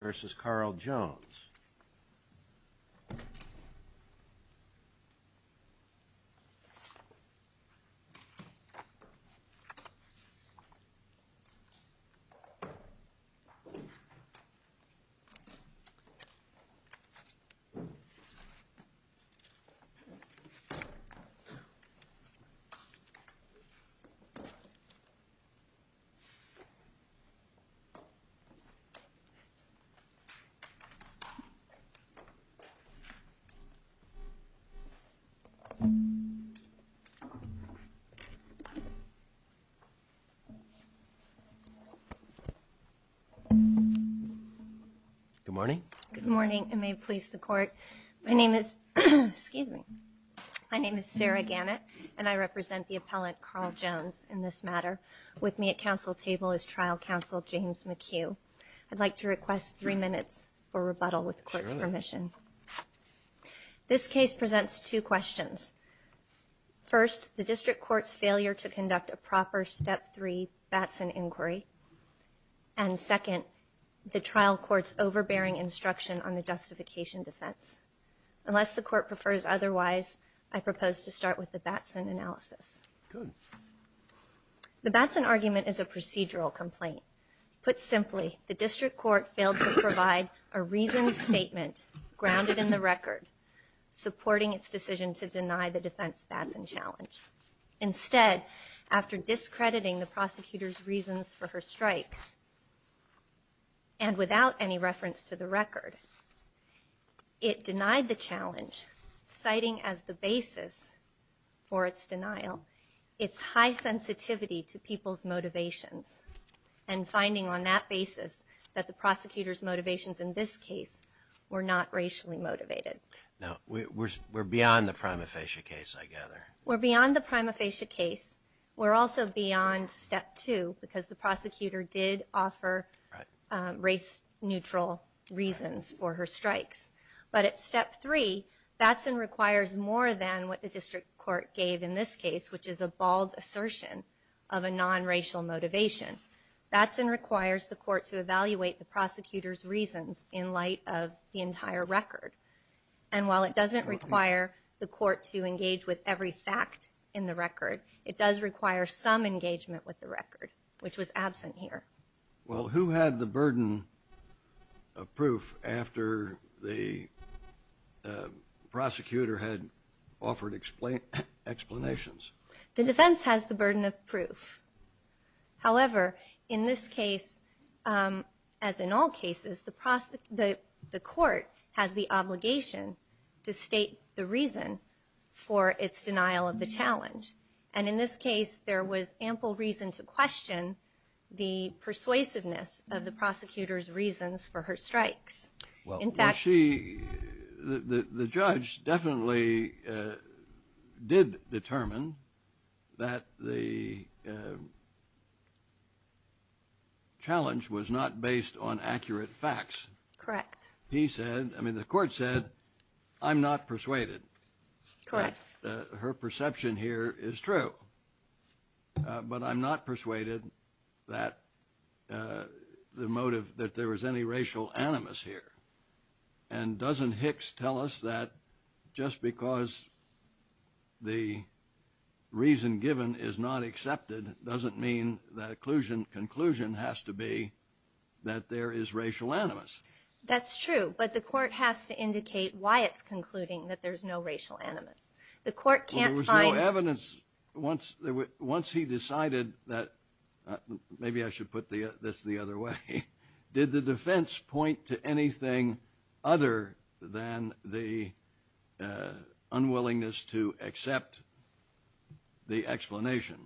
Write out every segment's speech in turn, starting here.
You You versus Carl Jones Good morning. Good morning. It may please the court. My name is Excuse me My name is Sarah Gannett and I represent the appellant Carl Jones in this matter With me at council table is trial counsel James McHugh. I'd like to request three minutes for rebuttal with court's permission This case presents two questions first the district courts failure to conduct a proper step three Batson inquiry and Second the trial courts overbearing instruction on the justification defense Unless the court prefers. Otherwise, I propose to start with the Batson analysis The Batson argument is a procedural complaint put simply the district court failed to provide a reason statement grounded in the record Supporting its decision to deny the defense Batson challenge instead after discrediting the prosecutors reasons for her strikes And without any reference to the record It denied the challenge citing as the basis for its denial its high sensitivity to people's motivations and Finding on that basis that the prosecutors motivations in this case were not racially motivated No, we're beyond the prima facie case. I gather we're beyond the prima facie case We're also beyond step two because the prosecutor did offer race neutral Reasons for her strikes, but it's step three Batson requires more than what the district court gave in this case, which is a bald assertion of a non-racial motivation Batson requires the court to evaluate the prosecutors reasons in light of the entire record and While it doesn't require the court to engage with every fact in the record It does require some engagement with the record which was absent here. Well who had the burden of proof after the Prosecutor had offered explain explanations the defense has the burden of proof however in this case As in all cases the process that the court has the obligation to state the reason for its denial of the challenge and in this case there was ample reason to question the persuasiveness of the prosecutors reasons for her strikes well in fact she the judge definitely did determine that the Challenge Was not based on accurate facts correct. He said I mean the court said I'm not persuaded Correct her perception here is true But I'm not persuaded that The motive that there was any racial animus here and doesn't Hicks tell us that just because the Reason given is not accepted doesn't mean that occlusion conclusion has to be That there is racial animus That's true, but the court has to indicate why it's concluding that there's no racial animus the court can't find evidence once there were once he decided that Maybe I should put the this the other way did the defense point to anything other than the Unwillingness to accept the explanation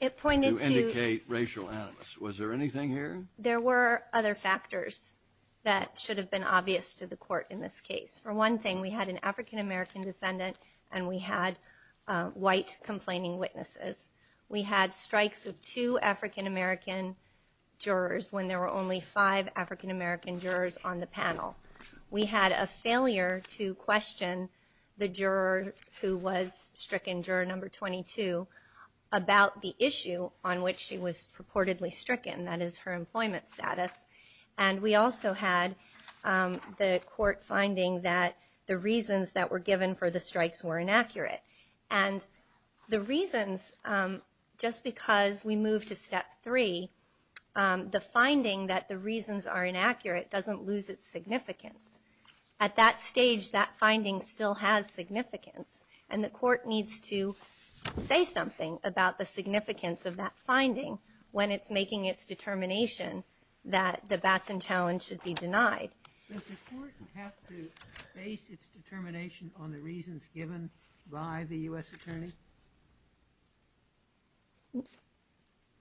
It pointed to indicate racial animus was there anything here there were other factors That should have been obvious to the court in this case for one thing we had an african-american defendant, and we had White complaining witnesses we had strikes of two african-american Jurors when there were only five african-american jurors on the panel we had a failure to question The juror who was stricken juror number 22 About the issue on which she was purportedly stricken that is her employment status, and we also had the court finding that the reasons that were given for the strikes were inaccurate and the reasons Just because we move to step three The finding that the reasons are inaccurate doesn't lose its significance at that stage that finding still has significance and the court needs to Say something about the significance of that finding when it's making its determination that the bats and challenge should be denied Determination on the reasons given by the US Attorney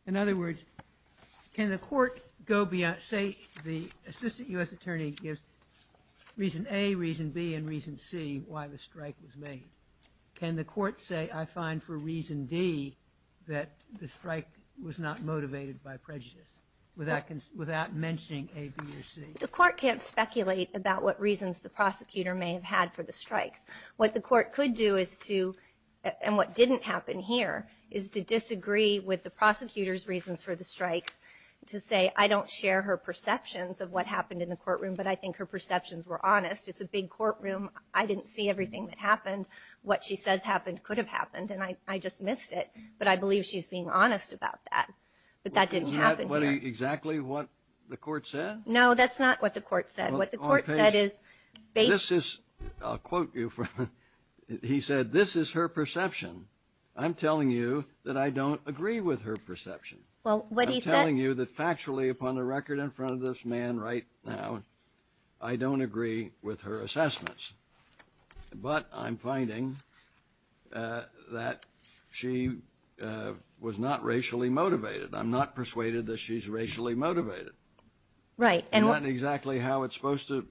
In Other words Can the court go beyond say the assistant US Attorney gives? Reason a reason B and reason C. Why the strike was made can the court say I find for reason D That the strike was not motivated by prejudice without Without mentioning a B or C the court can't speculate about what reasons the prosecutor may have had for the strikes What the court could do is to and what didn't happen here is to disagree with the prosecutors reasons for the strikes To say I don't share her perceptions of what happened in the courtroom, but I think her perceptions were honest. It's a big courtroom I didn't see everything that happened what she says happened could have happened, and I I just missed it But I believe she's being honest about that, but that didn't happen what exactly what the court said no That's not what the court said what the court said is basis. I'll quote you from He said this is her perception. I'm telling you that I don't agree with her perception Well, what he's telling you that factually upon a record in front of this man right now. I Don't agree with her assessments But I'm finding that she Was not racially motivated. I'm not persuaded that she's racially motivated Right and what exactly how it's supposed to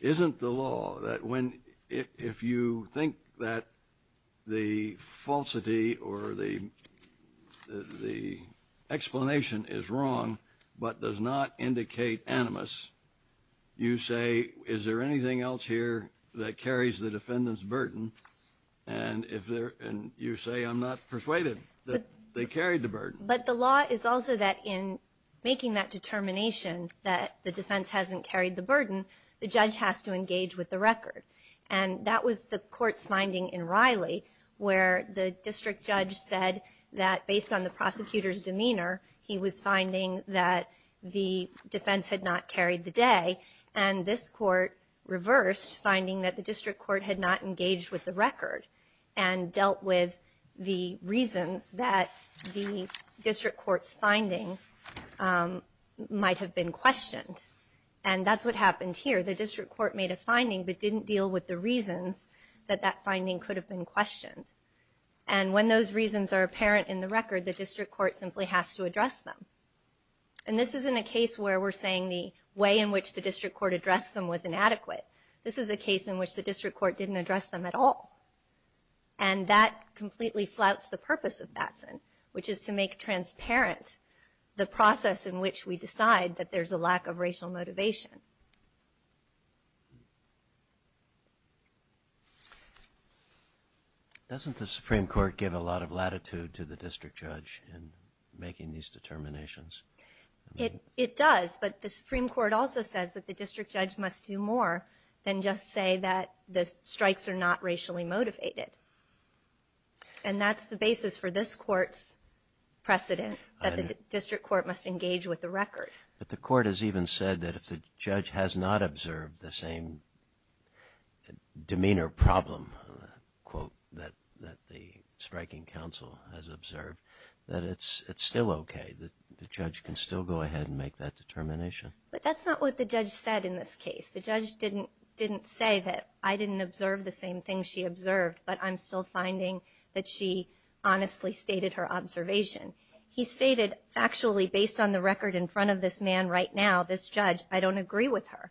isn't the law that when if you think that the falsity or the the Explanation is wrong, but does not indicate animus you say is there anything else here that carries the defendants burden and If there and you say I'm not persuaded that they carried the burden But the law is also that in making that determination that the defense hasn't carried the burden The judge has to engage with the record and that was the court's finding in Riley where the district judge said that based on the prosecutor's demeanor he was finding that the defense had not carried the day and this court reversed finding that the district court had not engaged with the record and dealt with the reasons that the district court's finding Might have been questioned and that's what happened here the district court made a finding but didn't deal with the reasons that that finding could have been questioned and When those reasons are apparent in the record the district court simply has to address them And this isn't a case where we're saying the way in which the district court addressed them with inadequate this is a case in which the district court didn't address them at all and That completely flouts the purpose of Batson, which is to make transparent The process in which we decide that there's a lack of racial motivation Doesn't the Supreme Court give a lot of latitude to the district judge in making these determinations It it does but the Supreme Court also says that the district judge must do more than just say that the strikes are not racially motivated and That's the basis for this court's Precedent that the district court must engage with the record, but the court has even said that if the judge has not observed the same Demeanor problem Quote that that the striking council has observed that it's it's still okay The judge can still go ahead and make that determination But that's not what the judge said in this case the judge didn't didn't say that I didn't observe the same thing She observed, but I'm still finding that she honestly stated her observation He stated factually based on the record in front of this man right now this judge I don't agree with her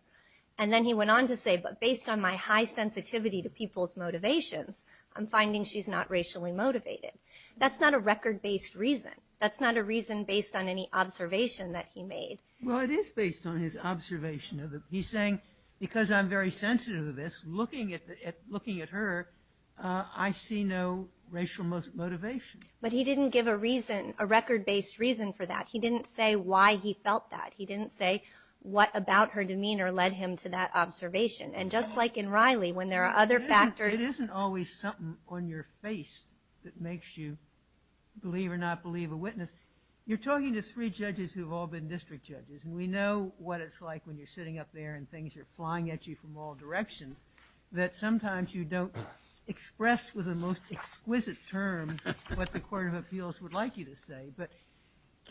and then he went on to say but based on my high sensitivity to people's motivations I'm finding she's not racially motivated. That's not a record-based reason. That's not a reason based on any Observation that he made well it is based on his observation of it He's saying because I'm very sensitive to this looking at looking at her I see no racial motivation, but he didn't give a reason a record-based reason for that He didn't say why he felt that he didn't say what about her demeanor led him to that Observation and just like in Riley when there are other factors. It isn't always something on your face that makes you Believe or not believe a witness you're talking to three judges who've all been district judges And we know what it's like when you're sitting up there and things are flying at you from all directions that sometimes you don't express with the most exquisite terms what the Court of Appeals would like you to say, but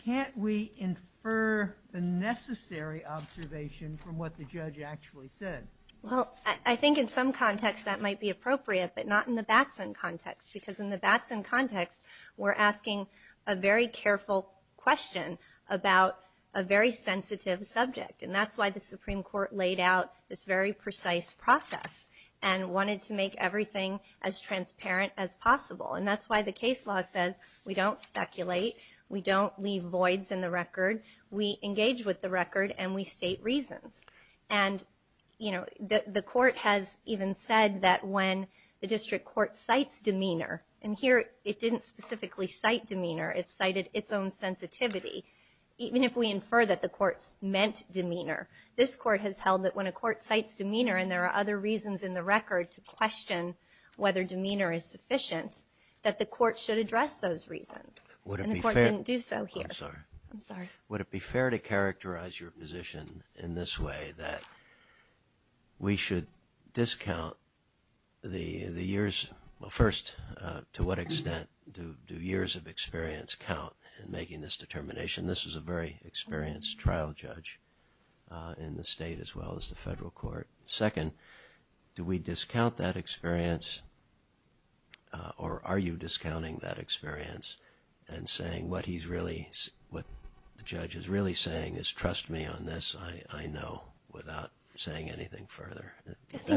Can't we infer the necessary observation from what the judge actually said well I think in some context that might be appropriate But not in the Batson context because in the Batson context we're asking a very careful question about a very sensitive subject and that's why the Supreme Court laid out this very precise process and Wanted to make everything as transparent as possible, and that's why the case law says we don't speculate we don't leave voids in the record we engage with the record and we state reasons and You know that the court has even said that when the district court cites demeanor and here it didn't specifically cite Demeanor it cited its own sensitivity Even if we infer that the courts meant demeanor this court has held that when a court cites demeanor And there are other reasons in the record to question whether demeanor is sufficient that the court should address those reasons What if I didn't do so here? I'm sorry. I'm sorry would it be fair to characterize your position in this way that? We should discount The the years well first to what extent do two years of experience count and making this determination? This is a very experienced trial judge In the state as well as the federal court second do we discount that experience? Or are you discounting that experience and saying what he's really what the judge is really saying is trust me on this I I know without saying anything further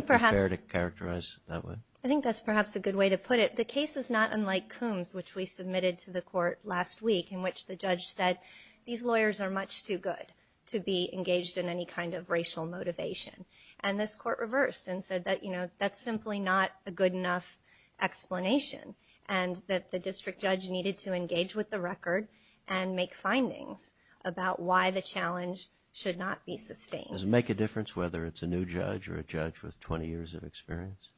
Perhaps there to characterize that way I think that's perhaps a good way to put it the case is not unlike Coombs which we submitted to the court last week in Which the judge said these lawyers are much too good to be engaged in any kind of racial motivation And this court reversed and said that you know that's simply not a good enough Explanation and that the district judge needed to engage with the record and make findings about why the challenge Should not be sustained doesn't make a difference whether it's a new judge or a judge with 20 years of experience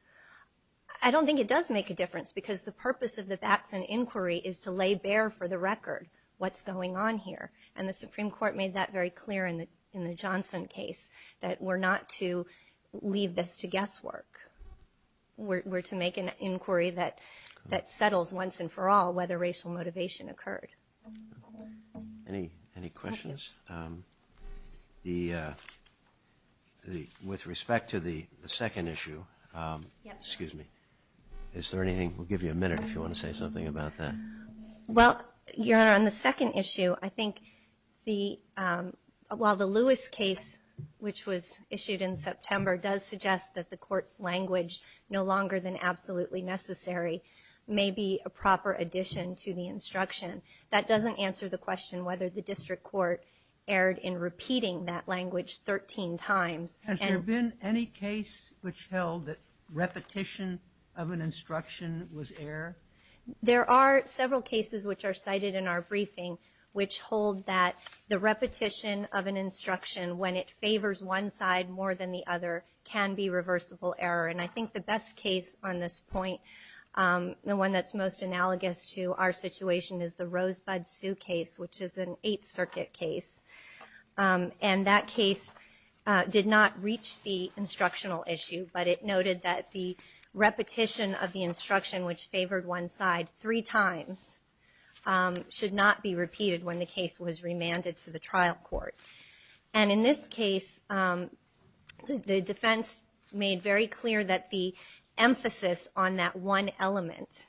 I Don't think it does make a difference because the purpose of the batson inquiry is to lay bare for the record What's going on here and the Supreme Court made that very clear in the in the Johnson case that we're not to Leave this to guesswork We're to make an inquiry that that settles once and for all whether racial motivation occurred Any any questions? the The with respect to the second issue Excuse me. Is there anything we'll give you a minute if you want to say something about that Well, you're on the second issue. I think the While the Lewis case which was issued in September does suggest that the court's language no longer than absolutely necessary May be a proper addition to the instruction that doesn't answer the question whether the district court Erred in repeating that language 13 times. Has there been any case which held that? repetition of an instruction was air There are several cases which are cited in our briefing Which hold that the repetition of an instruction when it favors one side more than the other? Can be reversible error and I think the best case on this point The one that's most analogous to our situation is the Rosebud Sioux case, which is an 8th Circuit case and that case Did not reach the instructional issue, but it noted that the repetition of the instruction which favored one side three times Should not be repeated when the case was remanded to the trial court and in this case the defense made very clear that the emphasis on that one element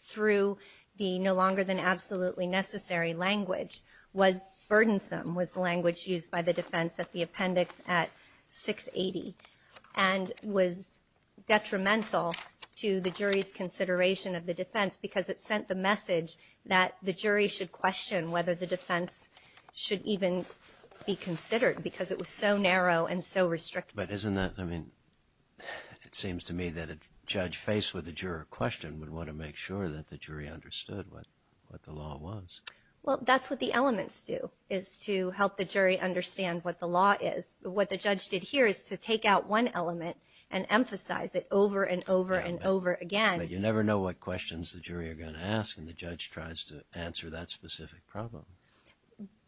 Through the no longer than absolutely necessary language was Burdensome was the language used by the defense at the appendix at 680 and was Detrimental to the jury's consideration of the defense because it sent the message that the jury should question whether the defense Should even be considered because it was so narrow and so restricted, but isn't that I mean It seems to me that a judge faced with a juror question would want to make sure that the jury understood what what the law Was well, that's what the elements do is to help the jury understand what the law is But what the judge did here is to take out one element and emphasize it over and over and over again But you never know what questions the jury are going to ask and the judge tries to answer that specific problem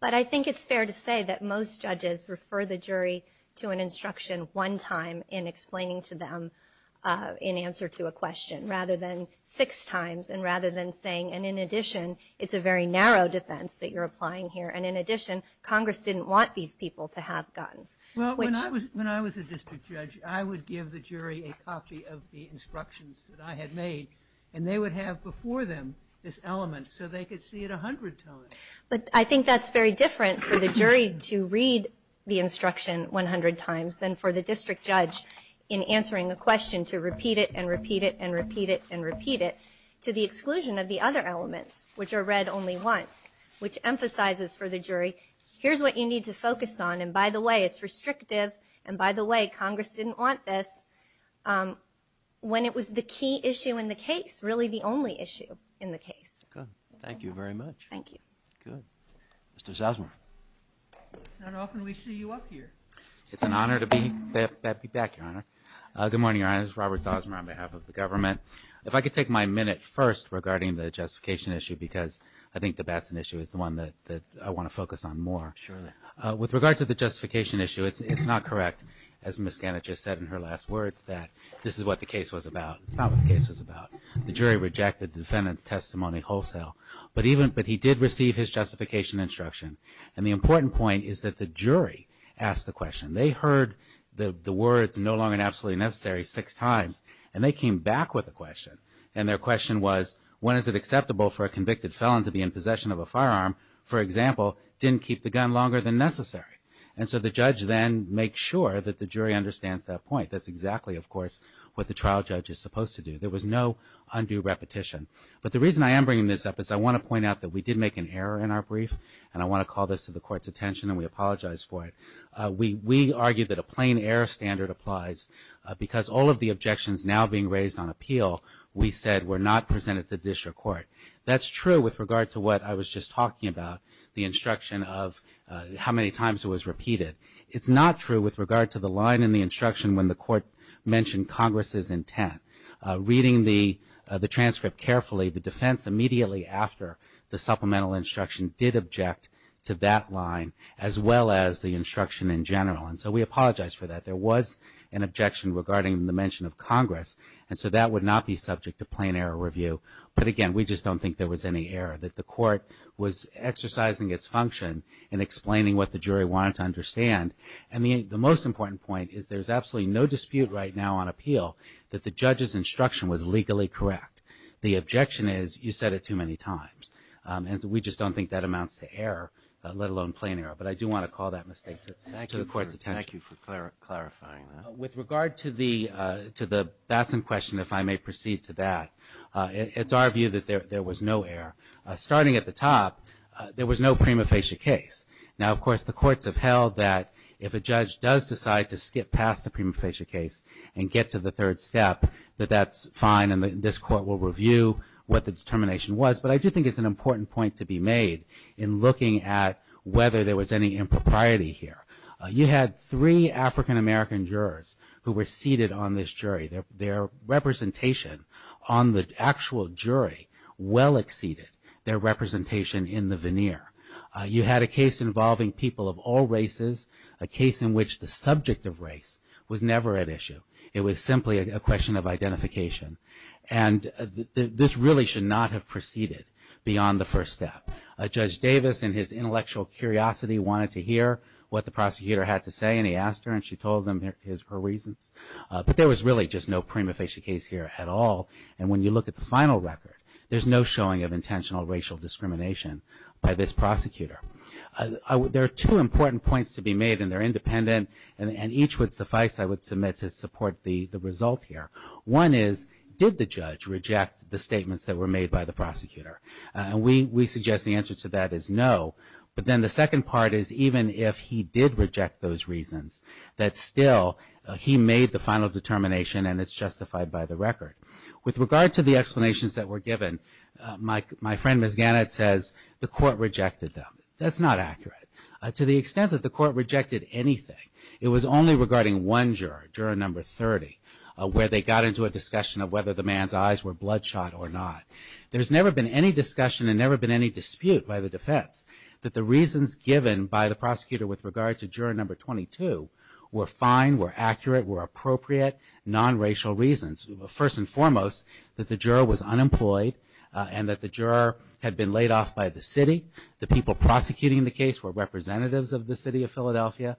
But I think it's fair to say that most judges refer the jury to an instruction one time in explaining to them In answer to a question rather than six times and rather than saying and in addition It's a very narrow defense that you're applying here. And in addition Congress didn't want these people to have guns Well, when I was when I was a district judge I would give the jury a copy of the instructions that I had made and they would have before them this But I think that's very different for the jury to read the instruction 100 times than for the district judge in Answering the question to repeat it and repeat it and repeat it and repeat it to the exclusion of the other elements Which are read only once which emphasizes for the jury. Here's what you need to focus on And by the way, it's restrictive and by the way Congress didn't want this When it was the key issue in the case really the only issue in the case good. Thank you very much Thank you, good Mr. Zells It's an honor to be back your honor good morning I was Robert's Osmer on behalf of the government if I could take my minute first Regarding the justification issue because I think the bats an issue is the one that I want to focus on more surely With regard to the justification issue. It's not correct as miss Gannett just said in her last words that this is what the case was about It's not what the case was about the jury rejected the defendant's testimony wholesale But even but he did receive his justification instruction and the important point is that the jury asked the question they heard the the words no longer absolutely necessary six times and they came back with a question and their question was When is it acceptable for a convicted felon to be in possession of a firearm? For example didn't keep the gun longer than necessary. And so the judge then make sure that the jury understands that point That's exactly of course what the trial judge is supposed to do There was no undue repetition But the reason I am bringing this up is I want to point out that we did make an error in our brief And I want to call this to the court's attention and we apologize for it We we argued that a plain error standard applies because all of the objections now being raised on appeal We said we're not presented to district court. That's true with regard to what I was just talking about the instruction of How many times it was repeated? It's not true with regard to the line in the instruction when the court mentioned Congress's intent Reading the the transcript carefully the defense immediately after the supplemental instruction did object to that line As well as the instruction in general and so we apologize for that There was an objection regarding the mention of Congress and so that would not be subject to plain error review But again, we just don't think there was any error that the court was Exercising its function and explaining what the jury wanted to understand and the the most important point is there's absolutely no dispute right now on appeal That the judge's instruction was legally correct. The objection is you said it too many times And so we just don't think that amounts to error let alone plain error, but I do want to call that mistake Thank you for the court's attention. Thank you for clarifying with regard to the to the Batson question if I may proceed to that It's our view that there was no error starting at the top. There was no prima facie case now of course the courts have held that if a judge does decide to skip past the prima facie case and Get to the third step that that's fine And this court will review what the determination was But I do think it's an important point to be made in looking at whether there was any impropriety here You had three African American jurors who were seated on this jury their their Representation on the actual jury well exceeded their representation in the veneer You had a case involving people of all races a case in which the subject of race was never at issue it was simply a question of identification and This really should not have proceeded Beyond the first step a judge Davis and his intellectual curiosity Wanted to hear what the prosecutor had to say and he asked her and she told them his her reasons But there was really just no prima facie case here at all and when you look at the final record There's no showing of intentional racial discrimination by this prosecutor There are two important points to be made and they're independent and each would suffice I would submit to support the the result here one is did the judge reject the statements that were made by the prosecutor and we Suggest the answer to that is no But then the second part is even if he did reject those reasons that still He made the final determination and it's justified by the record with regard to the explanations that were given Mike my friend Miss Gannett says the court rejected them To the extent that the court rejected anything It was only regarding one juror juror number 30 Where they got into a discussion of whether the man's eyes were bloodshot or not There's never been any discussion and never been any dispute by the defense That the reasons given by the prosecutor with regard to juror number 22 were fine were accurate were appropriate Non-racial reasons first and foremost that the juror was unemployed And that the juror had been laid off by the city the people prosecuting the case were representatives of the city of Philadelphia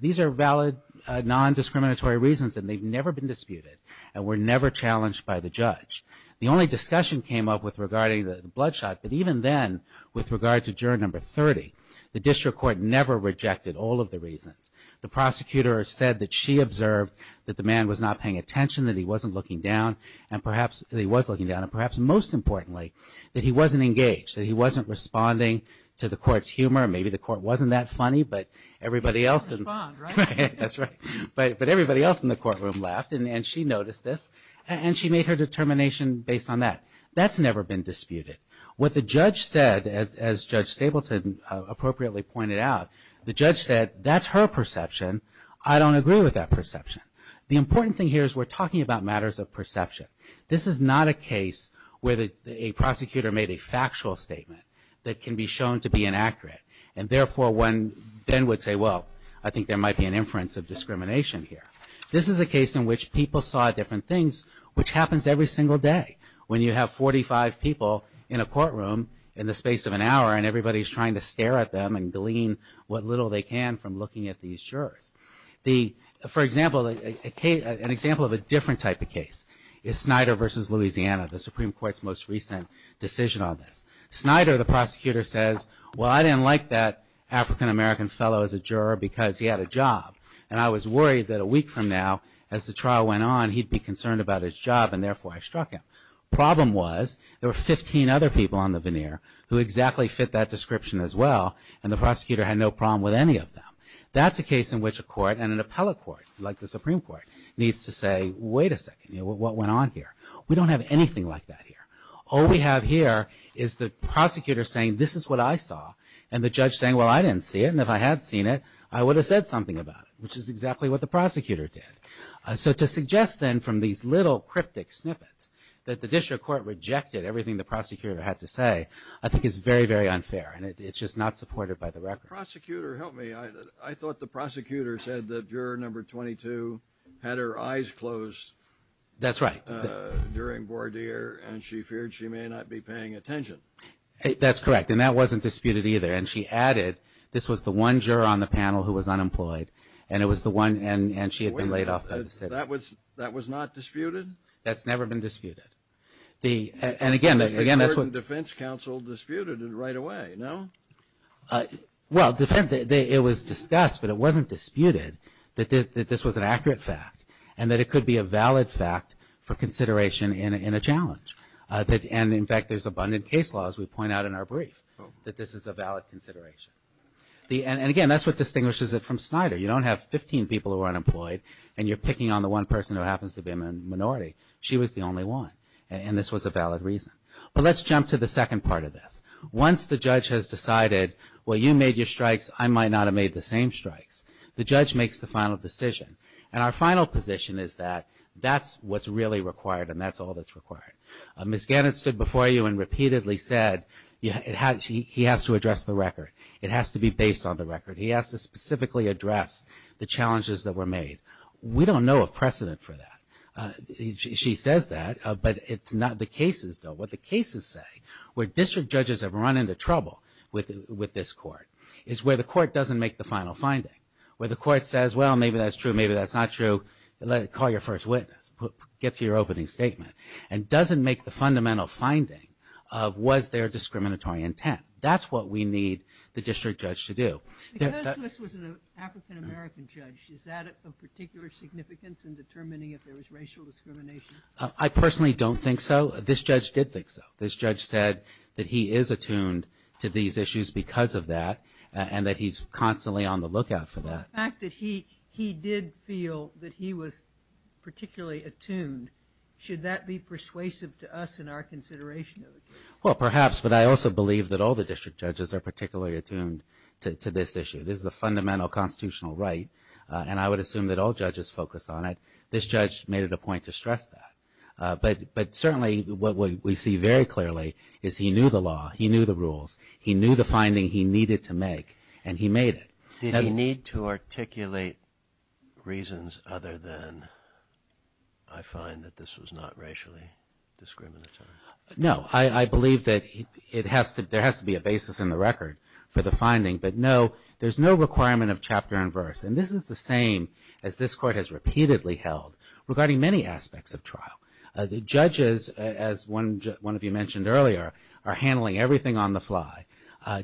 These are valid Non-discriminatory reasons and they've never been disputed and were never challenged by the judge The only discussion came up with regarding the bloodshot But even then with regard to juror number 30 the district court never rejected all of the reasons the prosecutor said that she observed that the man was not paying attention that he wasn't looking down and Perhaps he was looking down and perhaps most importantly that he wasn't engaged that he wasn't responding to the court's humor Maybe the court wasn't that funny, but everybody else That's right, but but everybody else in the courtroom left and she noticed this and she made her determination based on that That's never been disputed what the judge said as Judge Stapleton Appropriately pointed out the judge said that's her perception I don't agree with that perception the important thing here is we're talking about matters of perception this is not a case where the a prosecutor made a factual statement that can be shown to be inaccurate and Therefore one then would say well, I think there might be an inference of discrimination here This is a case in which people saw different things which happens every single day When you have 45 people in a courtroom in the space of an hour and everybody's trying to stare at them and glean What little they can from looking at these jurors the for example? Okay, an example of a different type of case is Snyder versus, Louisiana the Supreme Court's most recent decision on this Snyder the prosecutor says well I didn't like that African-american fellow as a juror because he had a job and I was worried that a week from now as the trial went on he'd Be concerned about his job and therefore I struck him Problem was there were 15 other people on the veneer who exactly fit that description as well And the prosecutor had no problem with any of them Like the Supreme Court needs to say wait a second. You know what went on here We don't have anything like that here All we have here is the prosecutor saying this is what I saw and the judge saying well I didn't see it and if I had seen it I would have said something about it, which is exactly what the prosecutor did So to suggest then from these little cryptic snippets that the district court rejected everything the prosecutor had to say I think it's very very unfair and it's just not supported by the record prosecutor help me I thought the prosecutor said that juror number 22 had her eyes closed That's right During board ear and she feared she may not be paying attention That's correct And that wasn't disputed either and she added This was the one juror on the panel who was unemployed and it was the one and and she had been laid off That was that was not disputed. That's never been disputed the and again again That's what defense counsel disputed it right away. No Well defend it was discussed But it wasn't disputed that this was an accurate fact and that it could be a valid fact for consideration in a challenge That and in fact, there's abundant case laws. We point out in our brief that this is a valid consideration The and again, that's what distinguishes it from Snyder You don't have 15 people who are unemployed and you're picking on the one person who happens to be a minority She was the only one and this was a valid reason But let's jump to the second part of this once the judge has decided well you made your strikes I might not have made the same strikes The judge makes the final decision and our final position is that that's what's really required and that's all that's required Miss Gannett stood before you and repeatedly said yeah, it had she he has to address the record It has to be based on the record. He has to specifically address the challenges that were made. We don't know of precedent for that She says that but it's not the cases don't what the cases say where district judges have run into trouble with With this court is where the court doesn't make the final finding where the court says well, maybe that's true Maybe that's not true. Let it call your first witness Get to your opening statement and doesn't make the fundamental finding of was there discriminatory intent? That's what we need the district judge to do I personally don't think so this judge did think so this judge said that he is attuned to these issues because of that and that he's Constantly on the lookout for that fact that he he did feel that he was Particularly attuned should that be persuasive to us in our consideration? Well, perhaps but I also believe that all the district judges are particularly attuned to this issue This is a fundamental constitutional, right? And I would assume that all judges focus on it. This judge made it a point to stress that But but certainly what we see very clearly is he knew the law. He knew the rules He knew the finding he needed to make and he made it. He didn't need to articulate reasons other than I Find that this was not racially Discriminatory. No, I I believe that it has to there has to be a basis in the record for the finding But no, there's no requirement of chapter and verse and this is the same as this court has repeatedly held Regarding many aspects of trial the judges as one one of you mentioned earlier are handling everything on the fly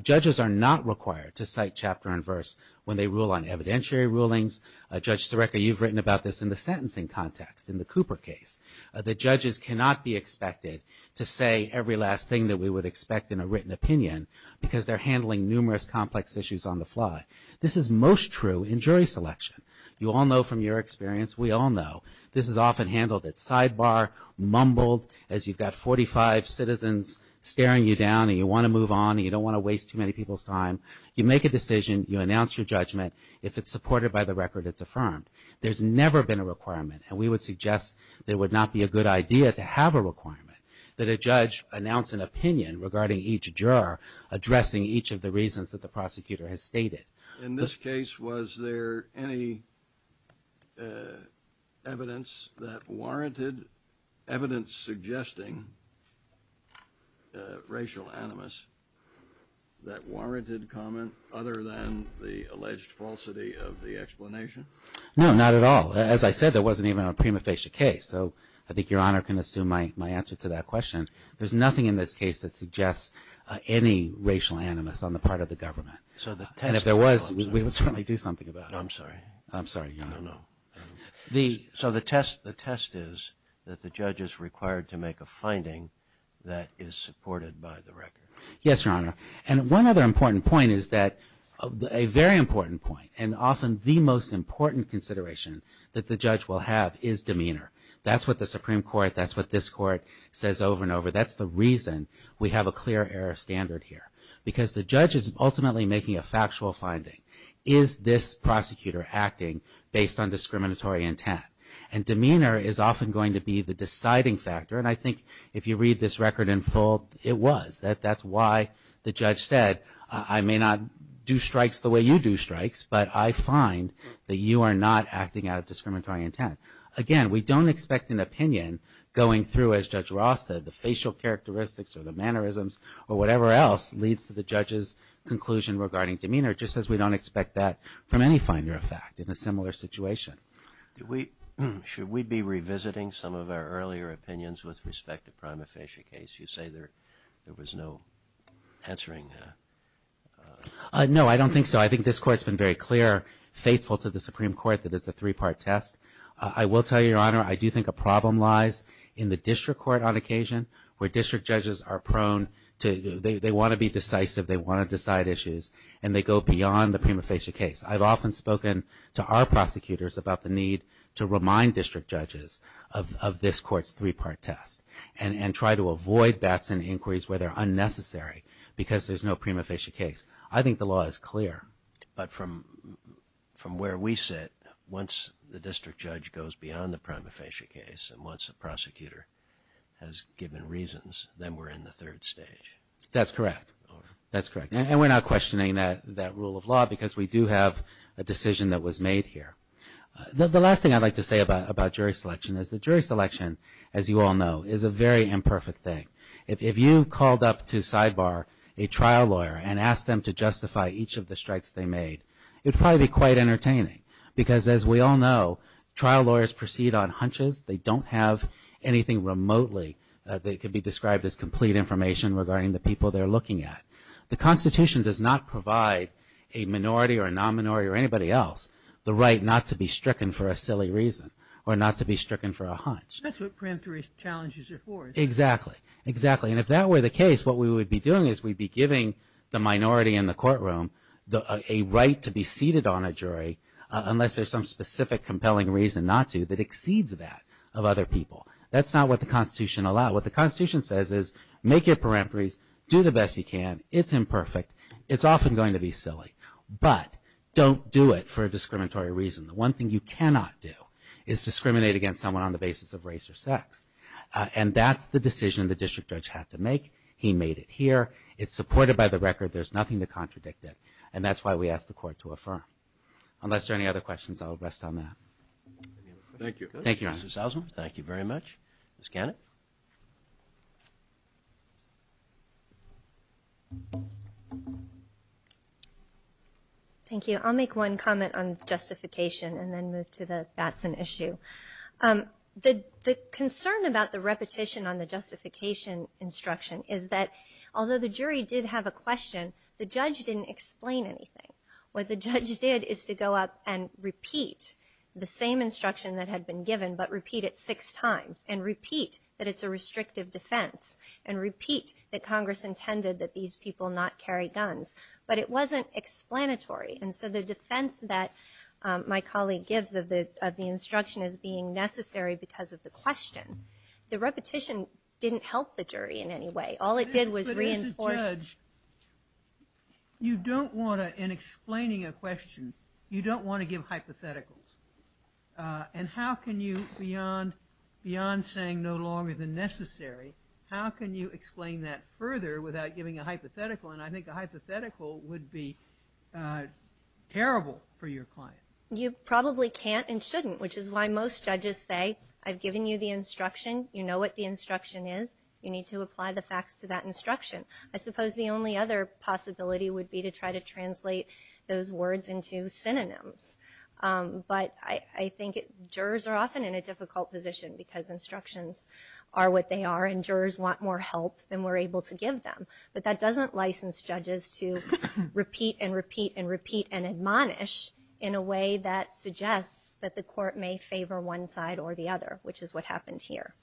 Judges are not required to cite chapter and verse when they rule on evidentiary rulings judge So record you've written about this in the sentencing context in the Cooper case The judges cannot be expected to say every last thing that we would expect in a written opinion Because they're handling numerous complex issues on the fly. This is most true in jury selection You all know from your experience. We all know this is often handled at sidebar Mumbled as you've got 45 citizens staring you down and you want to move on and you don't want to waste too many people's time You make a decision you announce your judgment if it's supported by the record, it's affirmed There's never been a requirement and we would suggest there would not be a good idea to have a requirement That a judge announced an opinion regarding each juror Addressing each of the reasons that the prosecutor has stated in this case. Was there any Evidence that warranted evidence suggesting Racial animus That warranted comment other than the alleged falsity of the explanation No, not at all As I said, there wasn't even a prima facie case. So I think Your Honor can assume my answer to that question There's nothing in this case that suggests any racial animus on the part of the government So the test if there was we would certainly do something about it. I'm sorry. I'm sorry. No The so the test the test is that the judge is required to make a finding that is supported by the record yes, Your Honor and one other important point is that a Very important point and often the most important consideration that the judge will have is demeanor. That's what the Supreme Court That's what this court says over and over That's the reason we have a clear error standard here because the judge is ultimately making a factual finding is this prosecutor acting based on discriminatory intent and demeanor is often going to be the deciding factor and I think if you read this record in full it was that that's why The judge said I may not do strikes the way you do strikes But I find that you are not acting out of discriminatory intent again We don't expect an opinion going through as Judge Ross said the facial characteristics or the mannerisms or whatever else leads to the judge's Conclusion regarding demeanor just as we don't expect that from any finder effect in a similar situation We should we be revisiting some of our earlier opinions with respect to prima facie case. You say there there was no answering No, I don't think so. I think this court's been very clear faithful to the Supreme Court that it's a three-part test I will tell you your honor I do think a problem lies in the district court on occasion where district judges are prone to They want to be decisive. They want to decide issues and they go beyond the prima facie case I've often spoken to our prosecutors about the need to remind district judges of This court's three-part test and and try to avoid bats and inquiries where they're unnecessary because there's no prima facie case I think the law is clear but from From where we sit once the district judge goes beyond the prima facie case and once the prosecutor Has given reasons then we're in the third stage. That's correct That's correct. And we're not questioning that that rule of law because we do have a decision that was made here The last thing I'd like to say about about jury selection is the jury selection as you all know is a very imperfect thing if If you called up to sidebar a trial lawyer and asked them to justify each of the strikes they made It's probably quite entertaining because as we all know trial lawyers proceed on hunches. They don't have anything remotely They could be described as complete information regarding the people they're looking at The Constitution does not provide a Minority or a non-minority or anybody else the right not to be stricken for a silly reason or not to be stricken for a hunch Exactly exactly and if that were the case What we would be doing is we'd be giving the minority in the courtroom the a right to be seated on a jury Unless there's some specific compelling reason not to that exceeds that of other people That's not what the Constitution allowed what the Constitution says is make your peremptories do the best you can It's imperfect. It's often going to be silly, but don't do it for a discriminatory reason The one thing you cannot do is discriminate against someone on the basis of race or sex And that's the decision the district judge had to make he made it here. It's supported by the record There's nothing to contradict it and that's why we asked the court to affirm Unless there any other questions, I'll rest on that Thank you. Thank you. Thank you very much. Let's get it Thank You I'll make one comment on justification and then move to the that's an issue The the concern about the repetition on the justification Instruction is that although the jury did have a question the judge didn't explain anything What the judge did is to go up and repeat the same instruction that had been given But repeat it six times and repeat that it's a restrictive defense and repeat that Congress intended that these people not carry guns But it wasn't explanatory and so the defense that My colleague gives of the of the instruction as being necessary because of the question The repetition didn't help the jury in any way. All it did was reinforce You don't want to in explaining a question you don't want to give hypotheticals And how can you beyond Beyond saying no longer than necessary. How can you explain that further without giving a hypothetical and I think a hypothetical would be Terrible for your client you probably can't and shouldn't which is why most judges say I've given you the instruction You know what the instruction is. You need to apply the facts to that instruction I suppose the only other possibility would be to try to translate those words into synonyms But I think jurors are often in a difficult position because Instructions are what they are and jurors want more help than we're able to give them but that doesn't license judges to Repeat and repeat and repeat and admonish in a way that suggests that the court may favor one side or the other Which is what happened here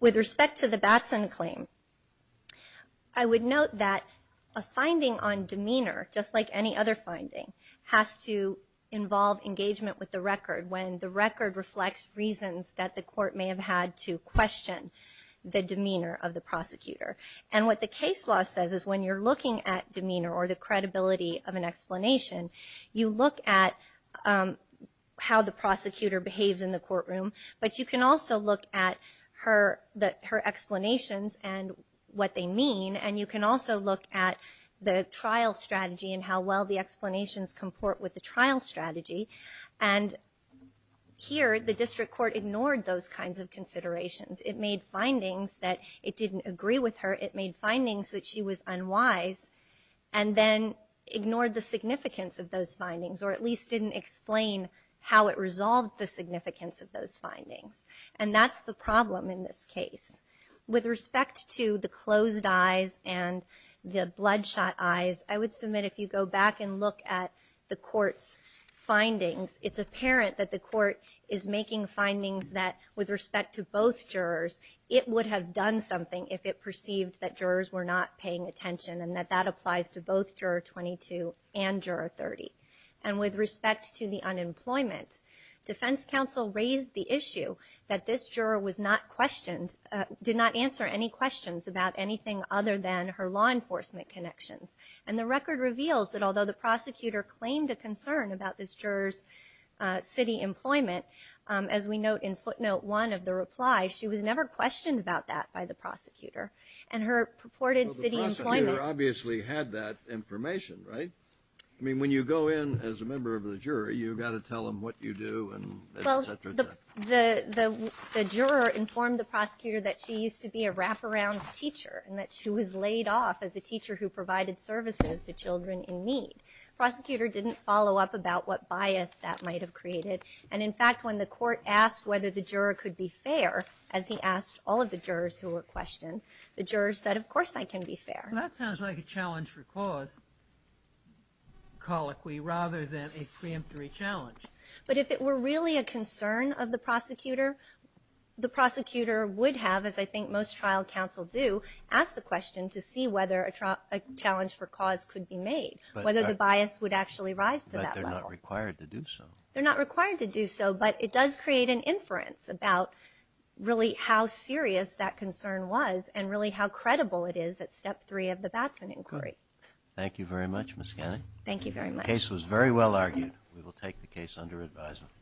with respect to the Batson claim I To involve engagement with the record when the record reflects reasons that the court may have had to question the demeanor of the prosecutor and what the case law says is when you're looking at demeanor or the credibility of an explanation you look at how the prosecutor behaves in the courtroom, but you can also look at her that her explanations and What they mean and you can also look at the trial strategy and how well the explanations comport with the trial strategy and Here the district court ignored those kinds of considerations it made findings that it didn't agree with her it made findings that she was unwise and Then ignored the significance of those findings or at least didn't explain How it resolved the significance of those findings and that's the problem in this case With respect to the closed eyes and the bloodshot eyes I would submit if you go back and look at the court's Findings it's apparent that the court is making findings that with respect to both jurors It would have done something if it perceived that jurors were not paying attention and that that applies to both juror 22 and juror 30 and with respect to the unemployment Defense counsel raised the issue that this juror was not questioned Did not answer any questions about anything other than her law enforcement Connections and the record reveals that although the prosecutor claimed a concern about this jurors City employment as we note in footnote one of the reply She was never questioned about that by the prosecutor and her purported city Obviously had that information, right? I mean when you go in as a member of the jury, you've got to tell them what you do and the Juror informed the prosecutor that she used to be a wraparound Teacher and that she was laid off as a teacher who provided services to children in need Prosecutor didn't follow up about what bias that might have created and in fact when the court asked whether the juror could be fair as he Asked all of the jurors who were questioned the jurors said of course I can be fair. That sounds like a challenge for cause Colloquy rather than a preemptory challenge, but if it were really a concern of the prosecutor the prosecutor would have as I think most trial counsel do ask the question to see whether a Challenge for cause could be made whether the bias would actually rise to that required to do so They're not required to do so, but it does create an inference about Really how serious that concern was and really how credible it is at step three of the Batson inquiry. Thank you very much Thank you very much case was very well argued. We will take the case under advisement